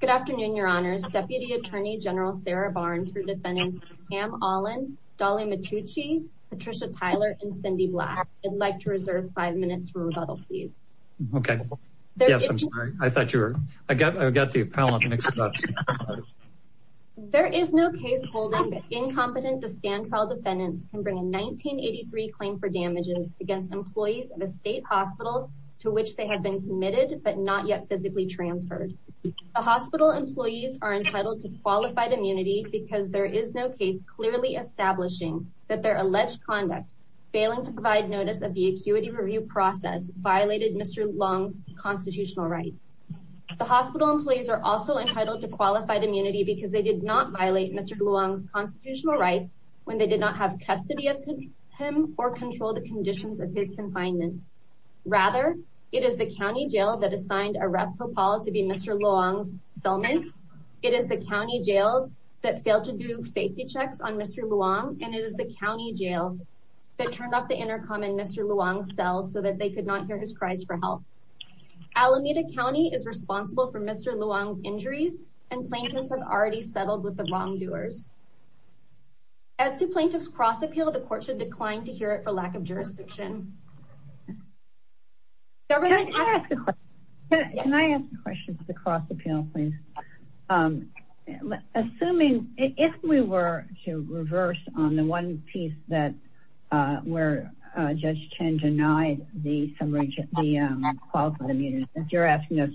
Good afternoon, Your Honors. Deputy Attorney General Sarah Barnes for defendants Pam Allen, Dolly Matucci, Patricia Tyler, and Cindy Blass. I'd like to reserve five minutes for rebuttal, please. Okay. Yes, I'm sorry. I thought you were, I got, I got the appellant mixed up. There is no case holding incompetent to stand trial defendants can bring a 1983 claim for damages against employees of a state hospital to which they have been committed but not yet physically transferred. The hospital employees are entitled to qualified immunity because there is no case clearly establishing that their alleged conduct failing to provide notice of the acuity review process violated Mr. Luong's constitutional rights. The hospital employees are also entitled to qualified immunity because they did not violate Mr. Luong's constitutional rights when they did not have custody of him or control the conditions of his confinement. Rather, it is the county jail that assigned a Rep Popal to be Mr. Luong's settlement. It is the county jail that failed to do safety checks on Mr. Luong and it is the county jail that turned off the intercom in Mr. Luong's cell so that they could not hear his cries for help. Alameda County is responsible for Mr. Luong's injuries and plaintiffs have already settled with the wrongdoers. As to plaintiff's cross appeal, the court should decline to hear it for lack of jurisdiction. Can I ask a question to the cross appeal please? Assuming if we were to reverse on the one piece where Judge Tan denied the summary of the qualified immunity that you're appeal,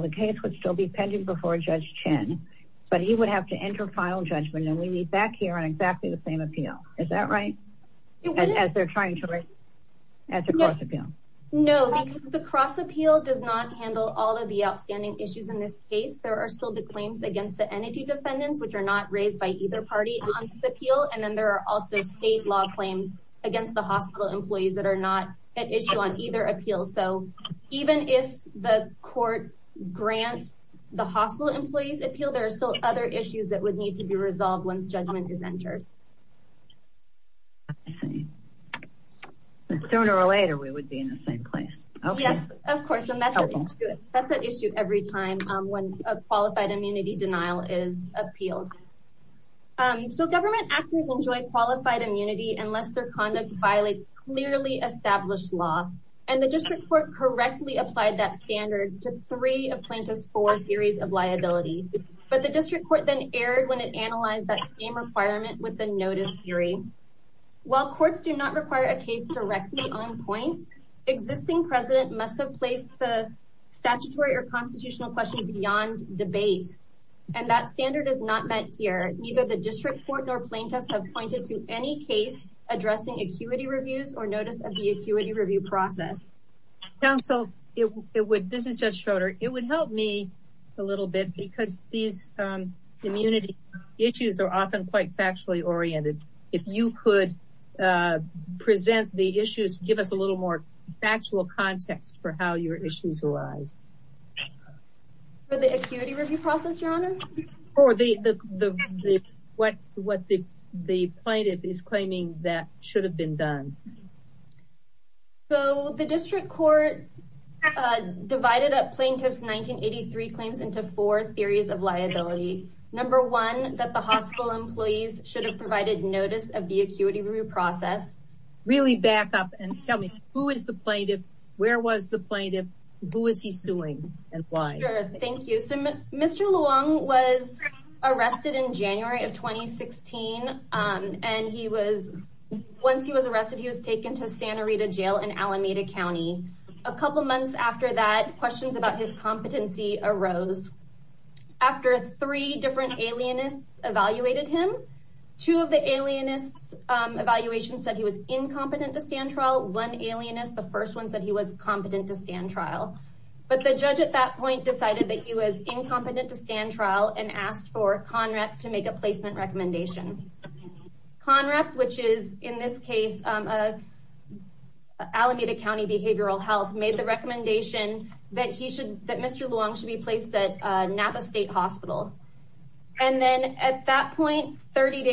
the case would still be pending before Judge Tan but he would have to enter final judgment and we meet back here on exactly the same appeal. Is that right? As they're trying to as a cross appeal? No, the cross appeal does not handle all of the outstanding issues in this case. There are still the claims against the entity defendants which are not raised by either party on this appeal and then there are also state law claims against the hospital employees that are not at issue on either appeal. So even if the court grants the hospital employees appeal, there are still other issues that would need to be resolved once judgment is entered. Sooner or later we would be in the same place. Yes, of course and that's an issue every time when a qualified immunity denial is appealed. So government actors enjoy qualified immunity unless their conduct violates clearly established law and the district court correctly applied that standard to three of plaintiff's four theories of liability but the district court then erred when it analyzed that same requirement with the notice theory. While courts do not require a case directly on point, existing president must have placed the statutory or constitutional question beyond debate and that standard is not met here. Neither the district court nor plaintiffs have any case addressing acuity reviews or notice of the acuity review process. Counsel, this is Judge Schroeder. It would help me a little bit because these immunity issues are often quite factually oriented. If you could present the issues, give us a little more factual context for how your issues arise. For the acuity review process, your honor? Or what the plaintiff is claiming that should have been done. So the district court divided up plaintiff's 1983 claims into four theories of liability. Number one, that the hospital employees should have provided notice of the acuity review process. Really back up and tell me who is the plaintiff? Where was the plaintiff? Who is he suing and why? Sure, thank you. So Mr. Luong was arrested in January of 2016 and he was once he was arrested he was taken to Santa Rita jail in Alameda County. A couple months after that, questions about his competency arose. After three different alienists evaluated him, two of the alienists evaluations said he was incompetent to stand trial. One alienist, the first one, said he was competent to stand trial. But the judge at that point decided that he was incompetent to stand trial and asked for CONREP to make a placement recommendation. CONREP, which is in this case Alameda County Behavioral Health, made the recommendation that Mr. Luong should be placed at Napa State Hospital. And then at that point 31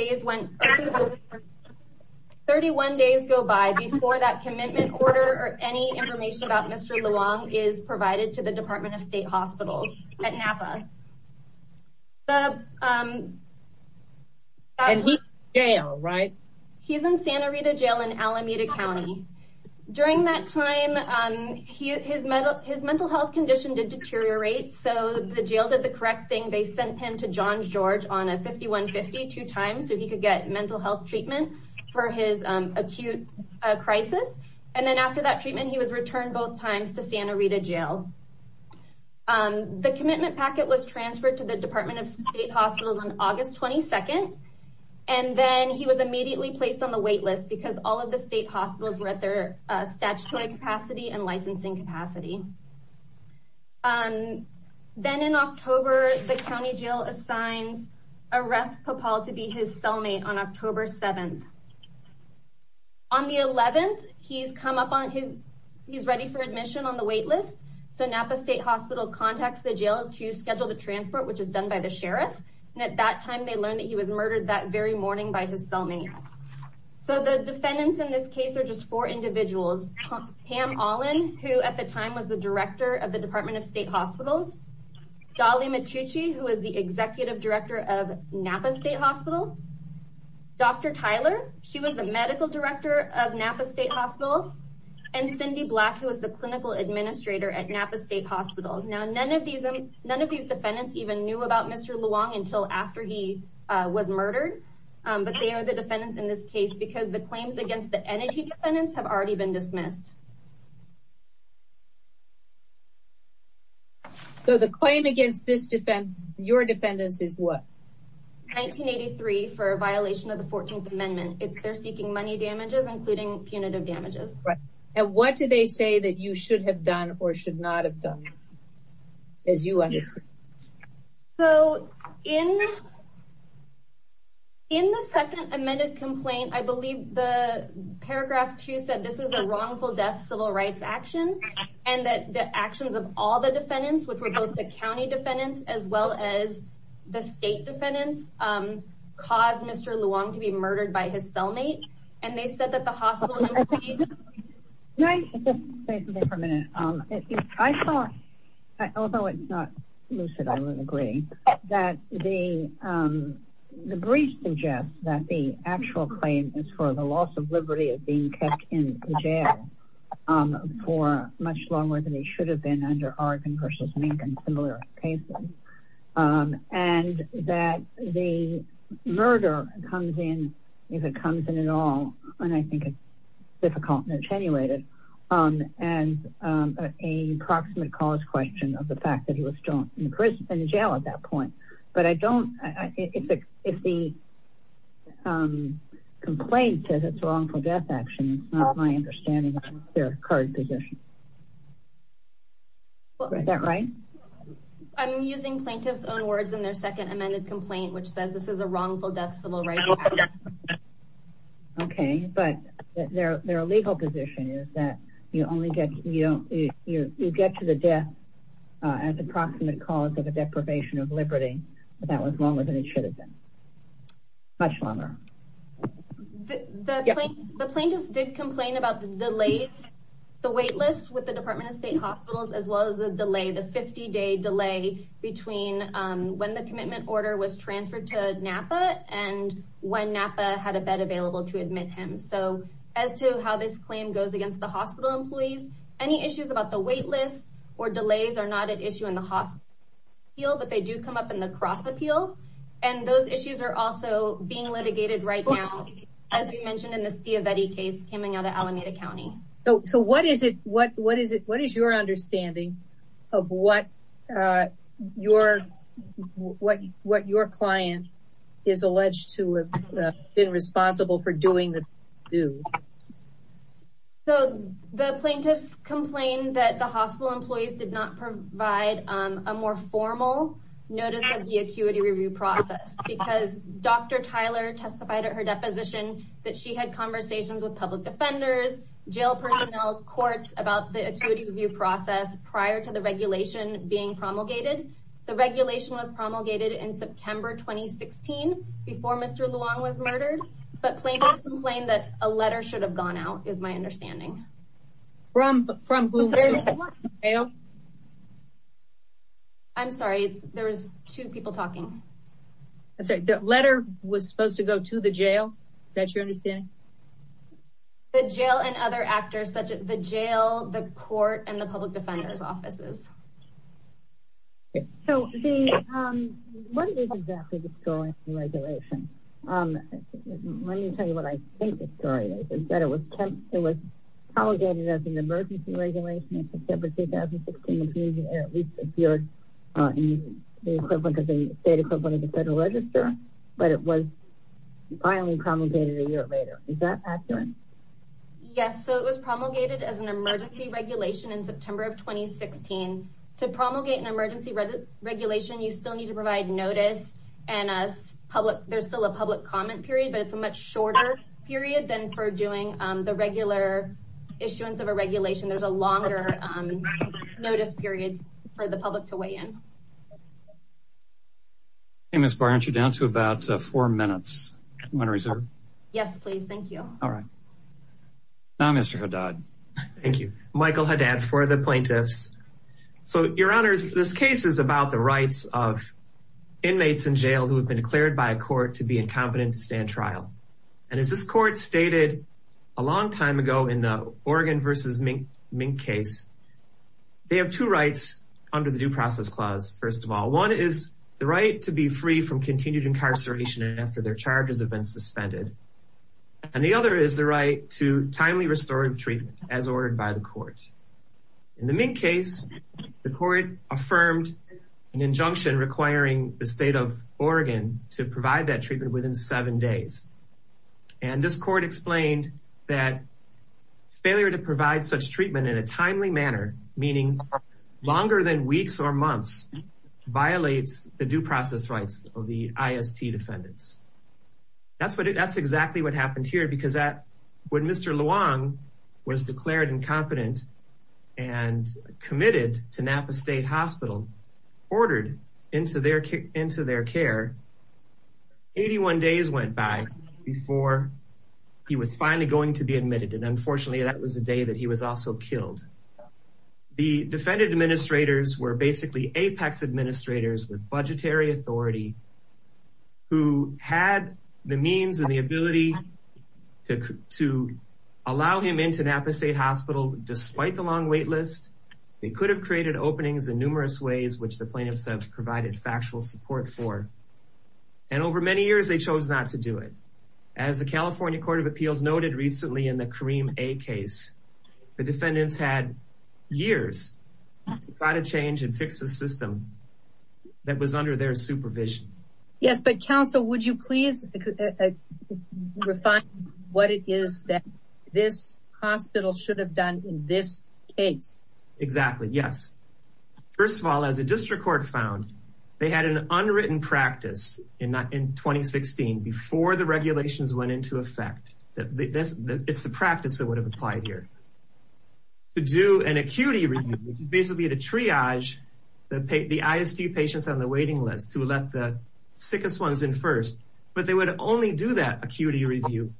days go by before that commitment order or any information about Mr. Luong is provided to the Department of State Hospitals at Napa. And he's in jail, right? He's in Santa Rita jail in Alameda County. During that time, his mental health condition did deteriorate so the jail did the correct thing. They sent him to John George on a 5150 two times so he could get mental health treatment for his acute crisis. And then after that treatment he was returned both times to Santa Rita jail. The commitment packet was transferred to the Department of State Hospitals on August 22nd and then he was immediately placed on the wait list because all of the state hospitals were at their statutory capacity and licensing capacity. Then in October, the county jail assigns Aref Popal to be his cellmate on October 7th. On the 11th, he's ready for admission on the wait list. So Napa State Hospital contacts the jail to schedule the transport, which is done by the by his cellmate. So the defendants in this case are just four individuals. Pam Allin, who at the time was the Director of the Department of State Hospitals. Dolly Matucci, who is the Executive Director of Napa State Hospital. Dr. Tyler, she was the Medical Director of Napa State Hospital. And Cindy Black, who was the Clinical Administrator at Napa State Hospital. Now none of these defendants even knew about Mr. Luong until after he was murdered. But they are the defendants in this case because the claims against the entity defendants have already been dismissed. So the claim against your defendants is what? 1983 for a violation of the 14th Amendment. They're seeking money damages, including punitive damages. Right. And what do they say that you should have done or should not have done? As you understand. So in. In the second amended complaint, I believe the paragraph two said this is a wrongful death civil rights action and that the actions of all the defendants, which were both the county defendants as well as the state defendants, caused Mr. Luong to be murdered by his cellmate. And they said that the hospital. Can I say something for a minute? I thought, although it's not lucid, I would agree that the brief suggests that the actual claim is for the loss of liberty of being kept in jail for much longer than he should have been under a similar case. And that the murder comes in if it comes in at all. And I think it's difficult and attenuated and a proximate cause question of the fact that he was in jail at that point. But I don't think if the complaint says it's wrongful death action, it's not my understanding their current position. Is that right? I'm using plaintiff's own words in their second amended complaint, which says this is a wrongful death civil rights. Okay, but their legal position is that you only get, you know, you get to the death as a proximate cause of a deprivation of liberty, but that was longer than it should have been. Much longer. The plaintiffs did complain about the delays, the waitlist with the Department of State hospitals, as well as the delay, the 50 day delay between when the commitment order was transferred to Napa and when Napa had a bed available to admit him. So as to how this claim goes against the hospital employees, any issues about the waitlist or delays are not an issue in the hospital appeal, but they do come up in the cross appeal. And those issues are also being litigated right now, as you mentioned in the Stiavetti case coming out of Alameda County. So what is it, what is it, what is your understanding of what your client is alleged to have been responsible for doing the do? So the plaintiffs complained that the hospital employees did not provide a more formal notice of the acuity review process because Dr. Tyler testified at her deposition that she had conversations with public defenders, jail personnel, courts about the acuity review process prior to the regulation being promulgated. The regulation was promulgated in September 2016 before Mr. Luong was murdered, but plaintiffs complained that a letter should have gone out is my understanding. From whom? I'm sorry, there was two people talking. I'm sorry, the letter was supposed to go to the jail? Is that your understanding? The jail and other actors such as the jail, the court and the public defender's offices. So what is exactly this going through regulation? Let me tell you what I think the story is, is that it was it was promulgated as an emergency regulation in September 2016, at least appeared in the equivalent of the state equivalent of the federal register, but it was finally promulgated a year later. Is that accurate? Yes, so it was promulgated as an emergency regulation in September of 2016, to promulgate an emergency regulation, you still need to provide notice and as public, there's still a public comment period, but it's a much shorter period than for doing the regular issuance of a regulation. There's a longer notice period for the public to weigh in. Hey, Ms. Barr, aren't you down to about four minutes? Yes, please. Thank you. All right. Now, Mr. Haddad. Thank you, Michael Haddad for the plaintiffs. So your honors, this case is about the rights of inmates in jail who have been declared by a court to be incompetent to stand trial. And as this court stated, a long time ago in the Oregon versus Mink case, they have two rights under the due process clause. First of all, one is the right to be free from continued incarceration after their charges have been suspended. And the other is the right to as ordered by the court. In the Mink case, the court affirmed an injunction requiring the state of Oregon to provide that treatment within seven days. And this court explained that failure to provide such treatment in a timely manner, meaning longer than weeks or months, violates the due process rights of the IST defendants. That's exactly what happened here because when Mr. Haddad was declared incompetent and committed to Napa State Hospital, ordered into their care, 81 days went by before he was finally going to be admitted. And unfortunately, that was the day that he was also killed. The defendant administrators were basically apex administrators with budgetary authority who had the means and the ability to allow him into Napa State Hospital despite the long wait list. They could have created openings in numerous ways, which the plaintiffs have provided factual support for. And over many years, they chose not to do it. As the California Court of Appeals noted recently in the Kareem A case, the defendants had years to try to change and fix a system that was under their supervision. Yes, but counsel, would you please refine what it is that this hospital should have done in this case? Exactly. Yes. First of all, as a district court found, they had an unwritten practice in 2016 before the regulations went into effect. It's the practice that would have applied here. To do an acuity review, which is basically a triage that paid the ISD patients on the waiting list to let the sickest ones in first. But they would only do that acuity review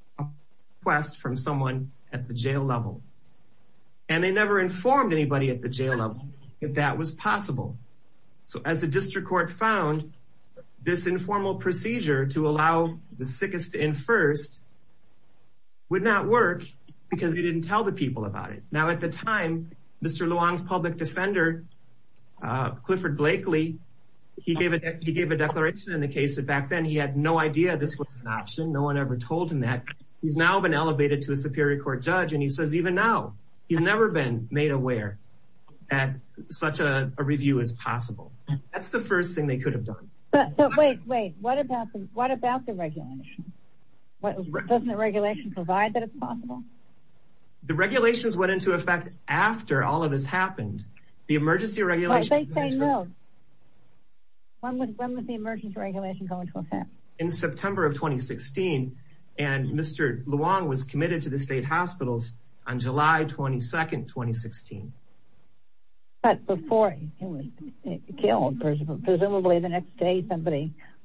request from someone at the jail level. And they never informed anybody at the jail level that that was possible. So as a district court found, this informal procedure to allow the sickest in first would not work because they didn't tell the people about it. Now, at the time, Mr. Luong's public defender, Clifford Blakely, he gave a declaration in the case that back then he had no idea this was an option. No one ever told him that. He's now been elevated to a superior court judge and he says even now, he's never been made aware that such a review is possible. That's the first thing they could have done. But wait, wait, what about the regulation? What doesn't the regulation provide that it's possible? The regulations went into effect after all of this happened. The emergency regulation. When was the emergency regulation going to affect? In September of 2016. And Mr. Luong was committed to the state hospitals on July 22, 2016. But before he was killed, presumably the next day,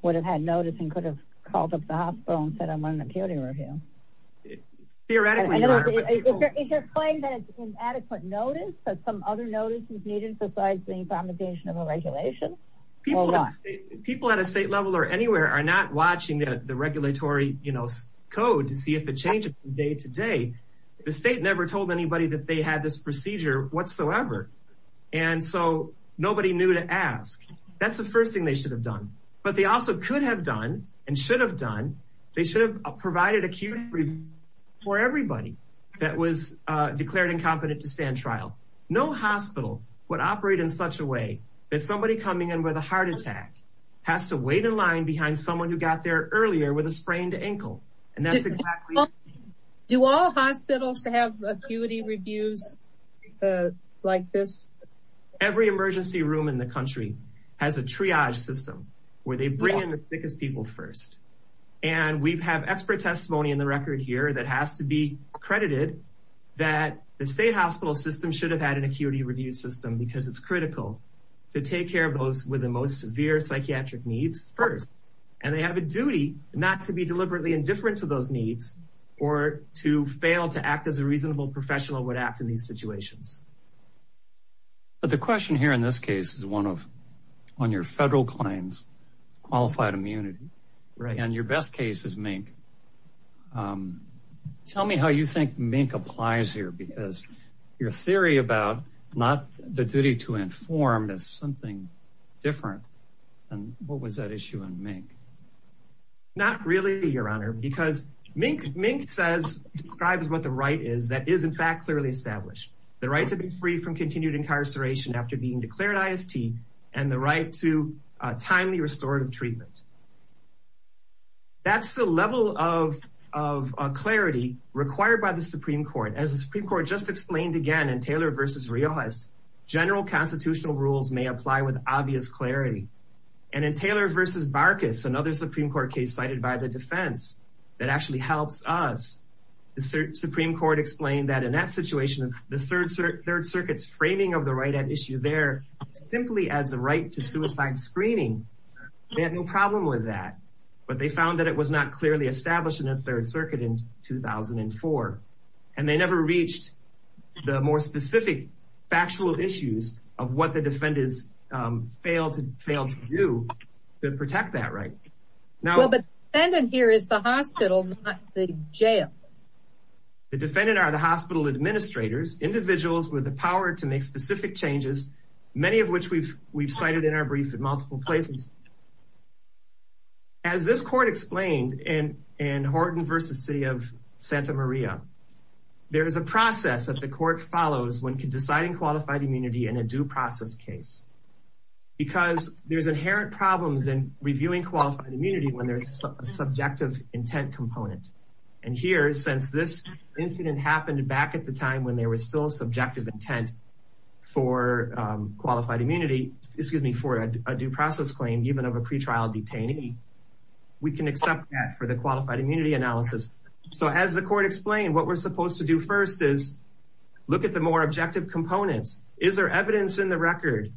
would have had notice and could have called up the hospital and said, I'm running a county review. Theoretically, you are. Is there a claim that it's inadequate notice, that some other notices needed besides the implementation of a regulation? People at a state level or anywhere are not watching the regulatory code to see if it changes from day to day. The state never told anybody that they had this procedure whatsoever. And so nobody knew to ask. That's the first thing they should have done. But they also could have done and should have done. They should have provided acute for everybody that was declared incompetent to stand trial. No hospital would operate in such a way that somebody coming in with a heart attack has to wait in line behind someone who got there earlier with a sprained ankle. And that's exactly. Do all hospitals have acuity reviews like this? Every emergency room in the country has a triage system where they bring in the sickest people first. And we have expert testimony in the record here that has to be credited that the state hospital system should have had an acuity review system because it's critical to take care of those with the most severe psychiatric needs first. And they have a duty not to be deliberately indifferent to those needs or to fail to act as a reasonable professional would act in these But the question here in this case is one of on your federal claims qualified immunity. Right. And your best case is Mink. Tell me how you think Mink applies here because your theory about not the duty to inform is something different. And what was that issue in Mink? Not really, your honor, because Mink Mink says describes what the right is that is in fact clearly established. The right to be free from continued incarceration after being declared IST and the right to timely restorative treatment. That's the level of of clarity required by the Supreme Court as the Supreme Court just explained again in Taylor versus Riojas. General constitutional rules may apply with obvious clarity. And in Taylor versus Barkas, another Supreme Court case cited by defense that actually helps us. The Supreme Court explained that in that situation, the third circuit's framing of the right at issue there simply as the right to suicide screening. They had no problem with that, but they found that it was not clearly established in the third circuit in 2004. And they never reached the more specific factual issues of what the defendants failed to do to protect that right. Now the defendant here is the hospital, not the jail. The defendant are the hospital administrators, individuals with the power to make specific changes, many of which we've we've cited in our brief in multiple places. As this court explained in Horton versus City of Santa Maria, there is a process that the court follows when deciding qualified immunity in a due process case. Because there's inherent problems in reviewing qualified immunity when there's a subjective intent component. And here, since this incident happened back at the time when there was still subjective intent for qualified immunity, excuse me, for a due process claim even of a pretrial detainee, we can accept that for the qualified immunity analysis. So as the court explained, what we're supposed to do first is look at the more objective components. Is there evidence in the record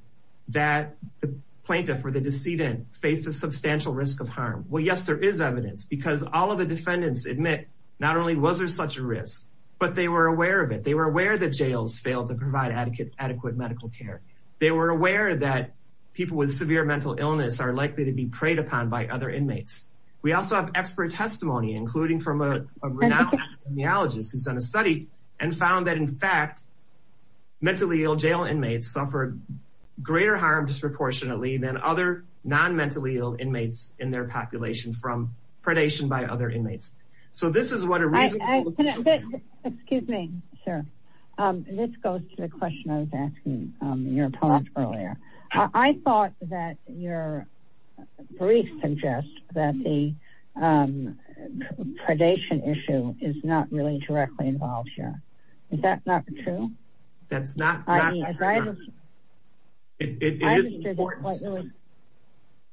that the plaintiff or the decedent faced a substantial risk of harm? Well, yes, there is evidence because all of the defendants admit not only was there such a risk, but they were aware of it. They were aware that jails failed to provide adequate medical care. They were aware that people with severe mental illness are likely to be preyed upon by other inmates. We also have expert testimony, including from a renowned epidemiologist who's done a study and greater harm disproportionately than other non-mentally ill inmates in their population from predation by other inmates. So this is what a reason... Excuse me, sir. This goes to the question I was asking your opponent earlier. I thought that your brief suggests that the predation issue is not really directly involved here. Is that not true? That's not... It is important.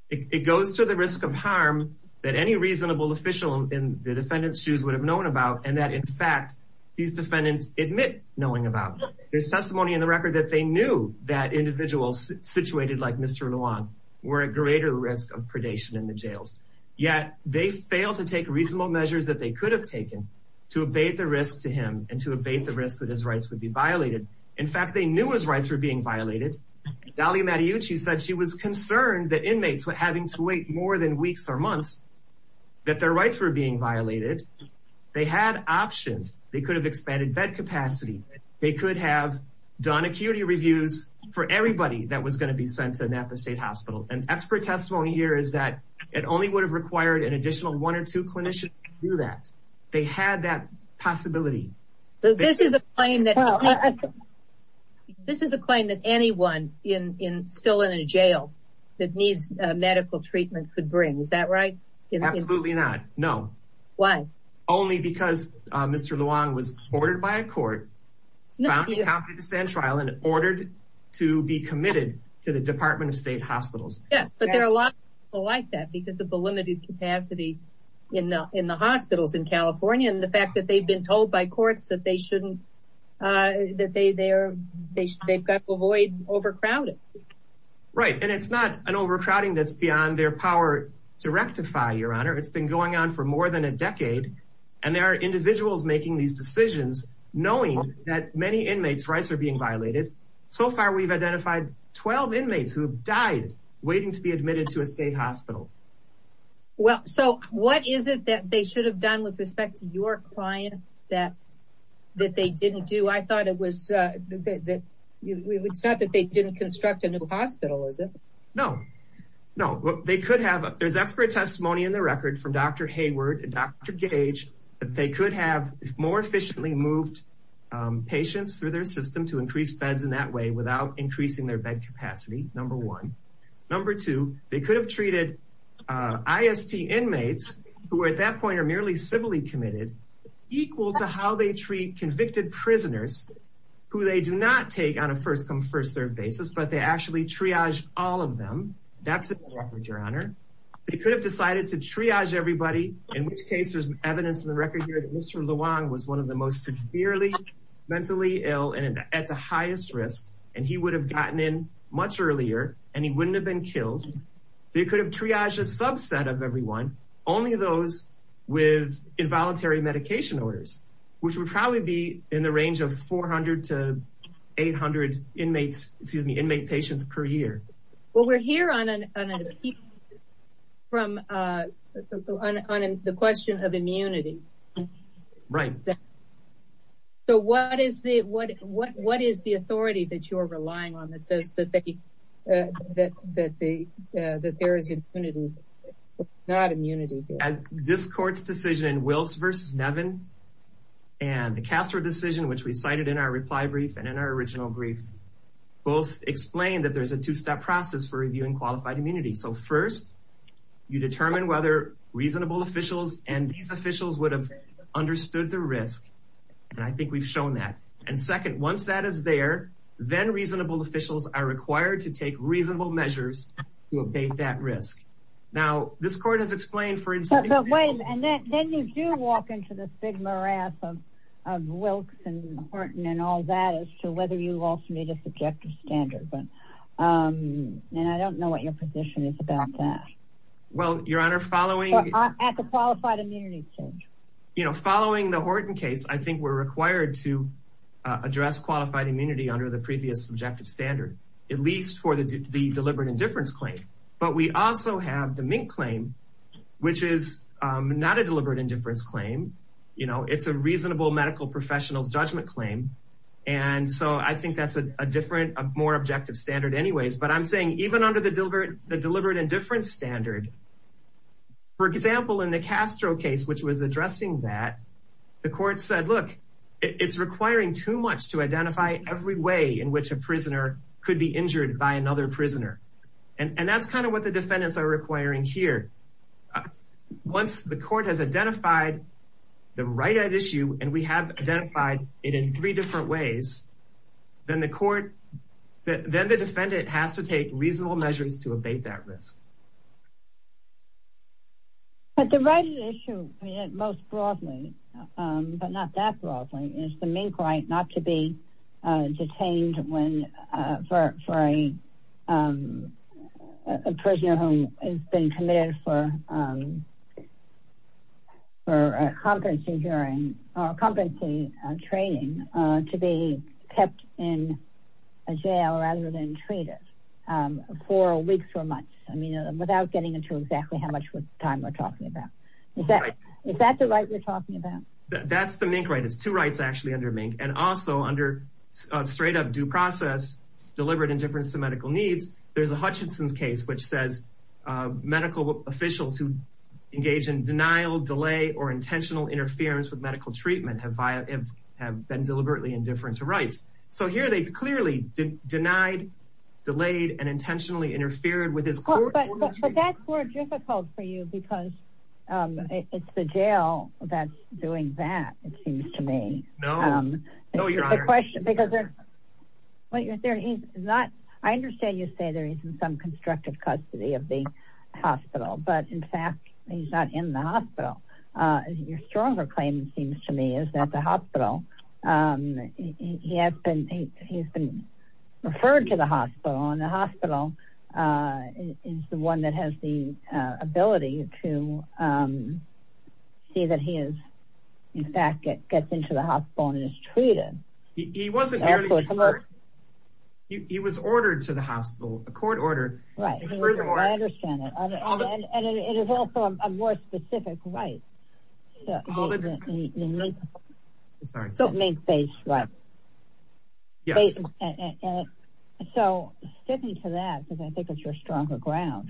It goes to the risk of harm that any reasonable official in the defendant's shoes would have known about and that in fact these defendants admit knowing about. There's testimony in the record that they knew that individuals situated like Mr. Luong were at greater risk of predation in the jails, yet they failed to take reasonable measures that they could have taken to evade the risk to him and to evade the risk that his rights would be violated. In fact, they knew his rights were being violated. Dahlia Mattiucci said she was concerned that inmates were having to wait more than weeks or months that their rights were being violated. They had options. They could have expanded bed capacity. They could have done acuity reviews for everybody that was going to be sent to Napa State Hospital. And expert testimony here is that it only would have required an additional one or two clinicians to do that. They had that possibility. This is a claim that anyone still in a jail that needs medical treatment could bring, is that right? Absolutely not. No. Why? Only because Mr. Luong was ordered by a court, found incompetent to stand trial, and ordered to be committed to the Department of State Hospitals. Yes, but there are a lot of people like that because of the limited capacity in the hospitals in California and the fact that they've been told by courts that they've got to avoid overcrowding. Right, and it's not an overcrowding that's beyond their power to rectify, Your Honor. It's been going on for more than a decade and there are individuals making these decisions knowing that many inmates' rights are being violated. So far, we've identified 12 inmates who have died waiting to be admitted to a state hospital. Well, so what is it that they should have done with respect to your client that that they didn't do? I thought it was that it's not that they didn't construct a new hospital, is it? No, no, they could have. There's expert testimony in the record from Dr. Hayward and Dr. Gage that they could have more efficiently moved patients through their system to increase beds in that way without increasing their bed capacity, number one. Number two, they could have treated IST inmates, who at that point are merely civilly committed, equal to how they treat convicted prisoners who they do not take on a first-come, first-served basis, but they actually triage all of them. That's a record, Your Honor. They could have decided to triage everybody, in which case there's evidence in the record here that Mr. Luong was one of the most severely mentally ill and at the highest risk and he would have gotten in much earlier and he wouldn't have been killed. They could have triaged a subset of everyone, only those with involuntary medication orders, which would probably be in the range of 400 to 800 inmates, excuse me, inmate patients per year. Well, we're here on a piece from the question of immunity. Right. So what is the authority that you're relying on that says that there is immunity, not immunity? This court's decision, Wilkes v. Nevin and the Castro decision, which we cited in our reply brief and in our original brief, both explain that there's a two-step process for reviewing qualified immunity. So first, you determine whether reasonable officials and these officials would have understood the risk and I think we've shown that. And second, once that is there, then reasonable officials are required to take reasonable measures to abate that risk. Now, this court has explained, for instance... But wait, and then you do walk into the stigma wrap of Wilkes and Horton and all that as to whether you also meet a subjective standard. And I don't know what your position is about that. Well, Your Honor, following... I think we're required to address qualified immunity under the previous subjective standard, at least for the deliberate indifference claim. But we also have the Mink claim, which is not a deliberate indifference claim. You know, it's a reasonable medical professional's judgment claim. And so I think that's a different, more objective standard anyways. But I'm saying even under the deliberate indifference standard, for example, in the Castro case, which was addressing that, the court said, look, it's requiring too much to identify every way in which a prisoner could be injured by another prisoner. And that's kind of what the defendants are requiring here. Once the court has identified the right at issue, and we have identified it in three different ways, then the defendant has to take reasonable measures to abate that risk. But the right at issue, most broadly, but not that broadly, is the Mink right not to be detained for a prisoner who has been committed for a competency training to be kept in a jail rather than treated for weeks or months. I mean, without getting into exactly how much time we're talking about. Is that the right we're talking about? That's the Mink right. It's two rights, actually, under Mink. And also under straight up due process, deliberate indifference to medical needs. There's a Hutchinson's case, which says medical officials who engage in denial, delay, or intentional interference with medical treatment have been deliberately indifferent to rights. So here they clearly denied, delayed, and intentionally interfered with his court. But that's more difficult for you because it's the jail that's doing that, it seems to me. I understand you say there isn't some constructive custody of the hospital, but in fact, he's not in the hospital. Your stronger claim, it seems to me, is that the hospital, he has been referred to the hospital and the hospital is the one that has the ability to see that he is, in fact, gets into the hospital and is treated. He was ordered to the hospital, a court order. Right. I understand and it is also a more specific right. So sticking to that, because I think it's your stronger ground,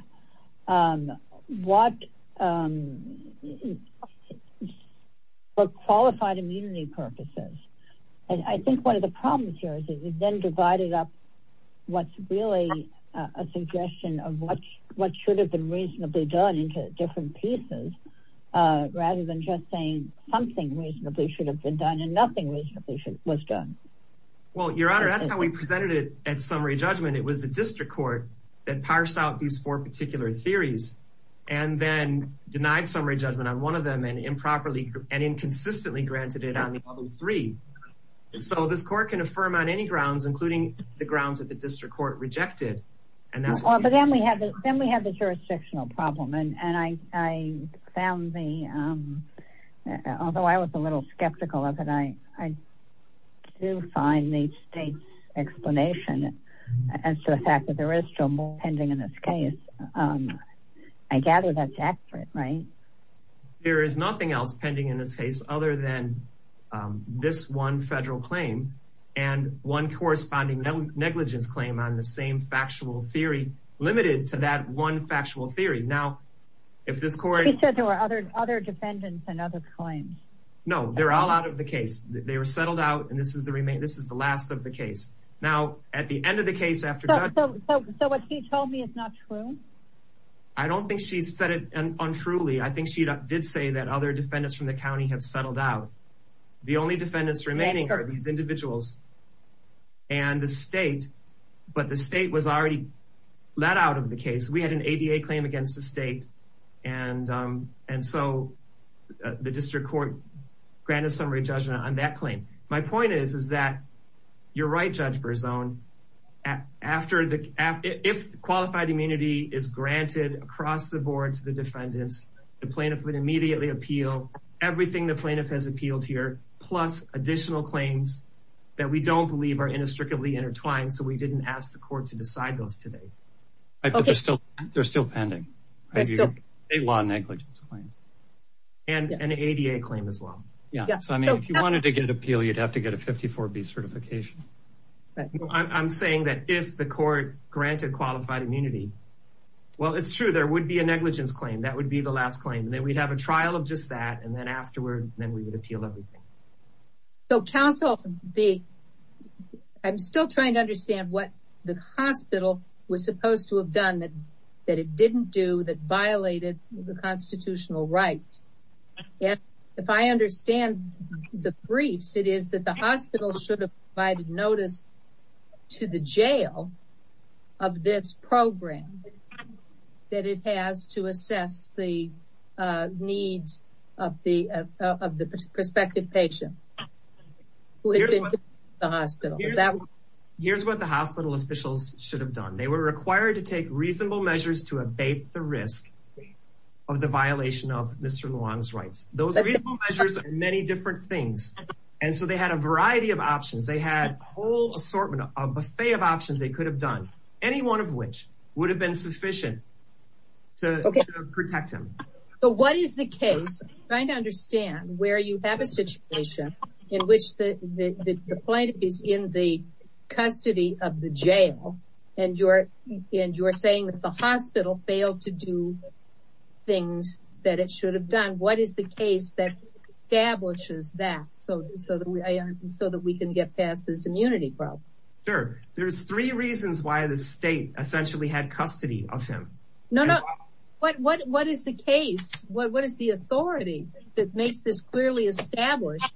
for qualified immunity purposes. And I think one of the problems here is that you then divided up what's really a suggestion of what should have been reasonably done into different pieces, rather than just saying something reasonably should have been done and nothing reasonably was done. Well, your honor, that's how we presented it at summary judgment. It was the district court that parsed out these four particular theories and then denied summary judgment on one of them and improperly and inconsistently granted it on the other three. So this court can affirm on any court rejected. But then we have the jurisdictional problem and I found the, although I was a little skeptical of it, I do find the state's explanation as to the fact that there is still more pending in this case. I gather that's accurate, right? There is nothing else pending in this case other than this one federal claim and one corresponding negligence claim on the same factual theory, limited to that one factual theory. Now, if this court... He said there were other defendants and other claims. No, they're all out of the case. They were settled out and this is the last of the case. Now, at the end of the case after... So what he told me is not true? I don't think she said it untruly. I think she did say that other defendants from the county have settled out. The only defendants remaining are these individuals and the state, but the state was already let out of the case. We had an ADA claim against the state and so the district court granted summary judgment on that claim. My point is, is that you're right, Judge Berzon. If qualified immunity is granted across the board to the defendants, the plaintiff would appeal everything the plaintiff has appealed here, plus additional claims that we don't believe are inextricably intertwined, so we didn't ask the court to decide those today. They're still pending. State law negligence claims. And an ADA claim as well. Yeah, so I mean, if you wanted to get appeal, you'd have to get a 54B certification. I'm saying that if the court granted qualified immunity... Well, it's true. There would be a negligence claim. That would be the last claim. Then we'd have a trial of just that and then afterward, then we would appeal everything. So counsel, I'm still trying to understand what the hospital was supposed to have done that it didn't do, that violated the constitutional rights. If I understand the briefs, it is that the hospital should have provided notice to the jail of this program that it has to assess the needs of the prospective patient who has been to the hospital. Here's what the hospital officials should have done. They were required to take reasonable measures to abate the risk of the violation of Mr. Luang's rights. Those reasonable measures are many different things, and so they had a variety of options. They had a whole assortment, a buffet of options they could have done, any one of which would have been sufficient to protect him. What is the case? I'm trying to understand where you have a situation in which the plaintiff is in the custody of the jail and you're saying that the hospital failed to do things that it should have done. What is the case that establishes that so that we can get past this immunity problem? Sure. There's three reasons why the state essentially had custody of him. No, no. What is the case? What is the authority that makes this clearly established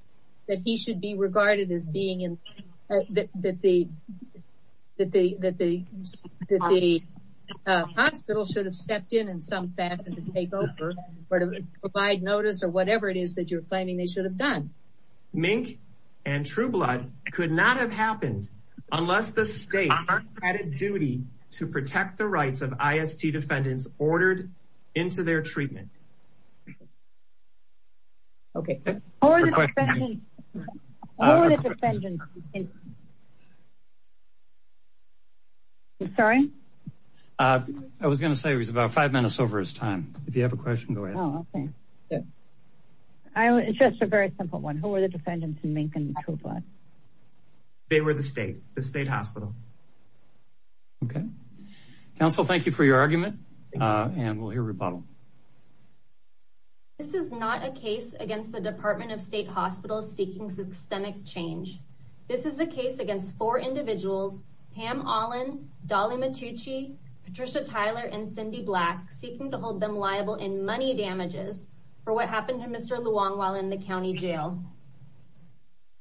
that he should be regarded as being in that the hospital should have stepped in in some fashion to take over or to provide notice or whatever it is that you're claiming they should have done. Mink and Trueblood could not have happened unless the state had a duty to protect the rights of IST defendants ordered into their treatment. Okay. Who are the defendants? Sorry? I was going to say it was about five minutes over his time. If you have a question, go ahead. Oh, okay. It's just a very simple one. Who were the defendants in Mink and Trueblood? They were the state, the state hospital. Okay. Counsel, thank you for your argument and we'll hear rebuttal. This is not a case against the Department of State Hospitals seeking systemic change. This is a case against four individuals, Pam Allen, Dolly Matucci, Patricia Tyler and Cindy Black, seeking to hold them liable in money damages for what happened while in the county jail.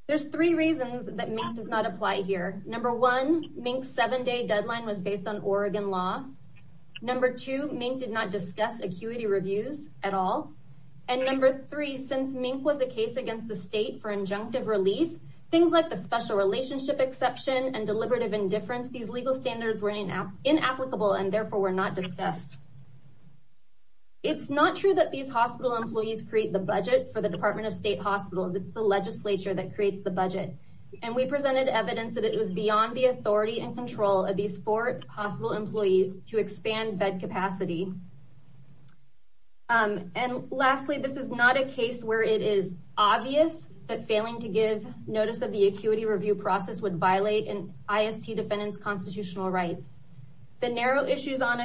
There's three reasons that Mink does not apply here. Number one, Mink's seven day deadline was based on Oregon law. Number two, Mink did not discuss acuity reviews at all. And number three, since Mink was a case against the state for injunctive relief, things like the special relationship exception and deliberative indifference, these legal standards were inapplicable and therefore were not discussed. It's not true that these hospital employees create the budget for the Department of State Hospitals. It's the legislature that creates the budget. And we presented evidence that it was beyond the authority and control of these four hospital employees to expand bed capacity. And lastly, this is not a case where it is obvious that failing to give notice of the acuity review process would violate an IST defendant's constitutional rights. The narrow issues on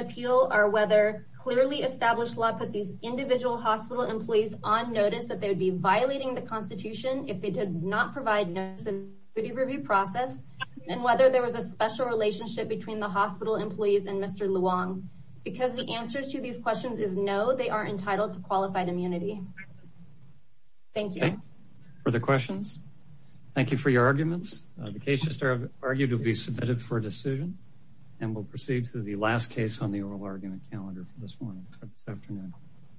clearly established law put these individual hospital employees on notice that they would be violating the constitution if they did not provide notice of the review process and whether there was a special relationship between the hospital employees and Mr. Luong. Because the answers to these questions is no, they are entitled to qualified immunity. Thank you. Further questions? Thank you for your arguments. The case just argued will be submitted for calendar this morning, this afternoon.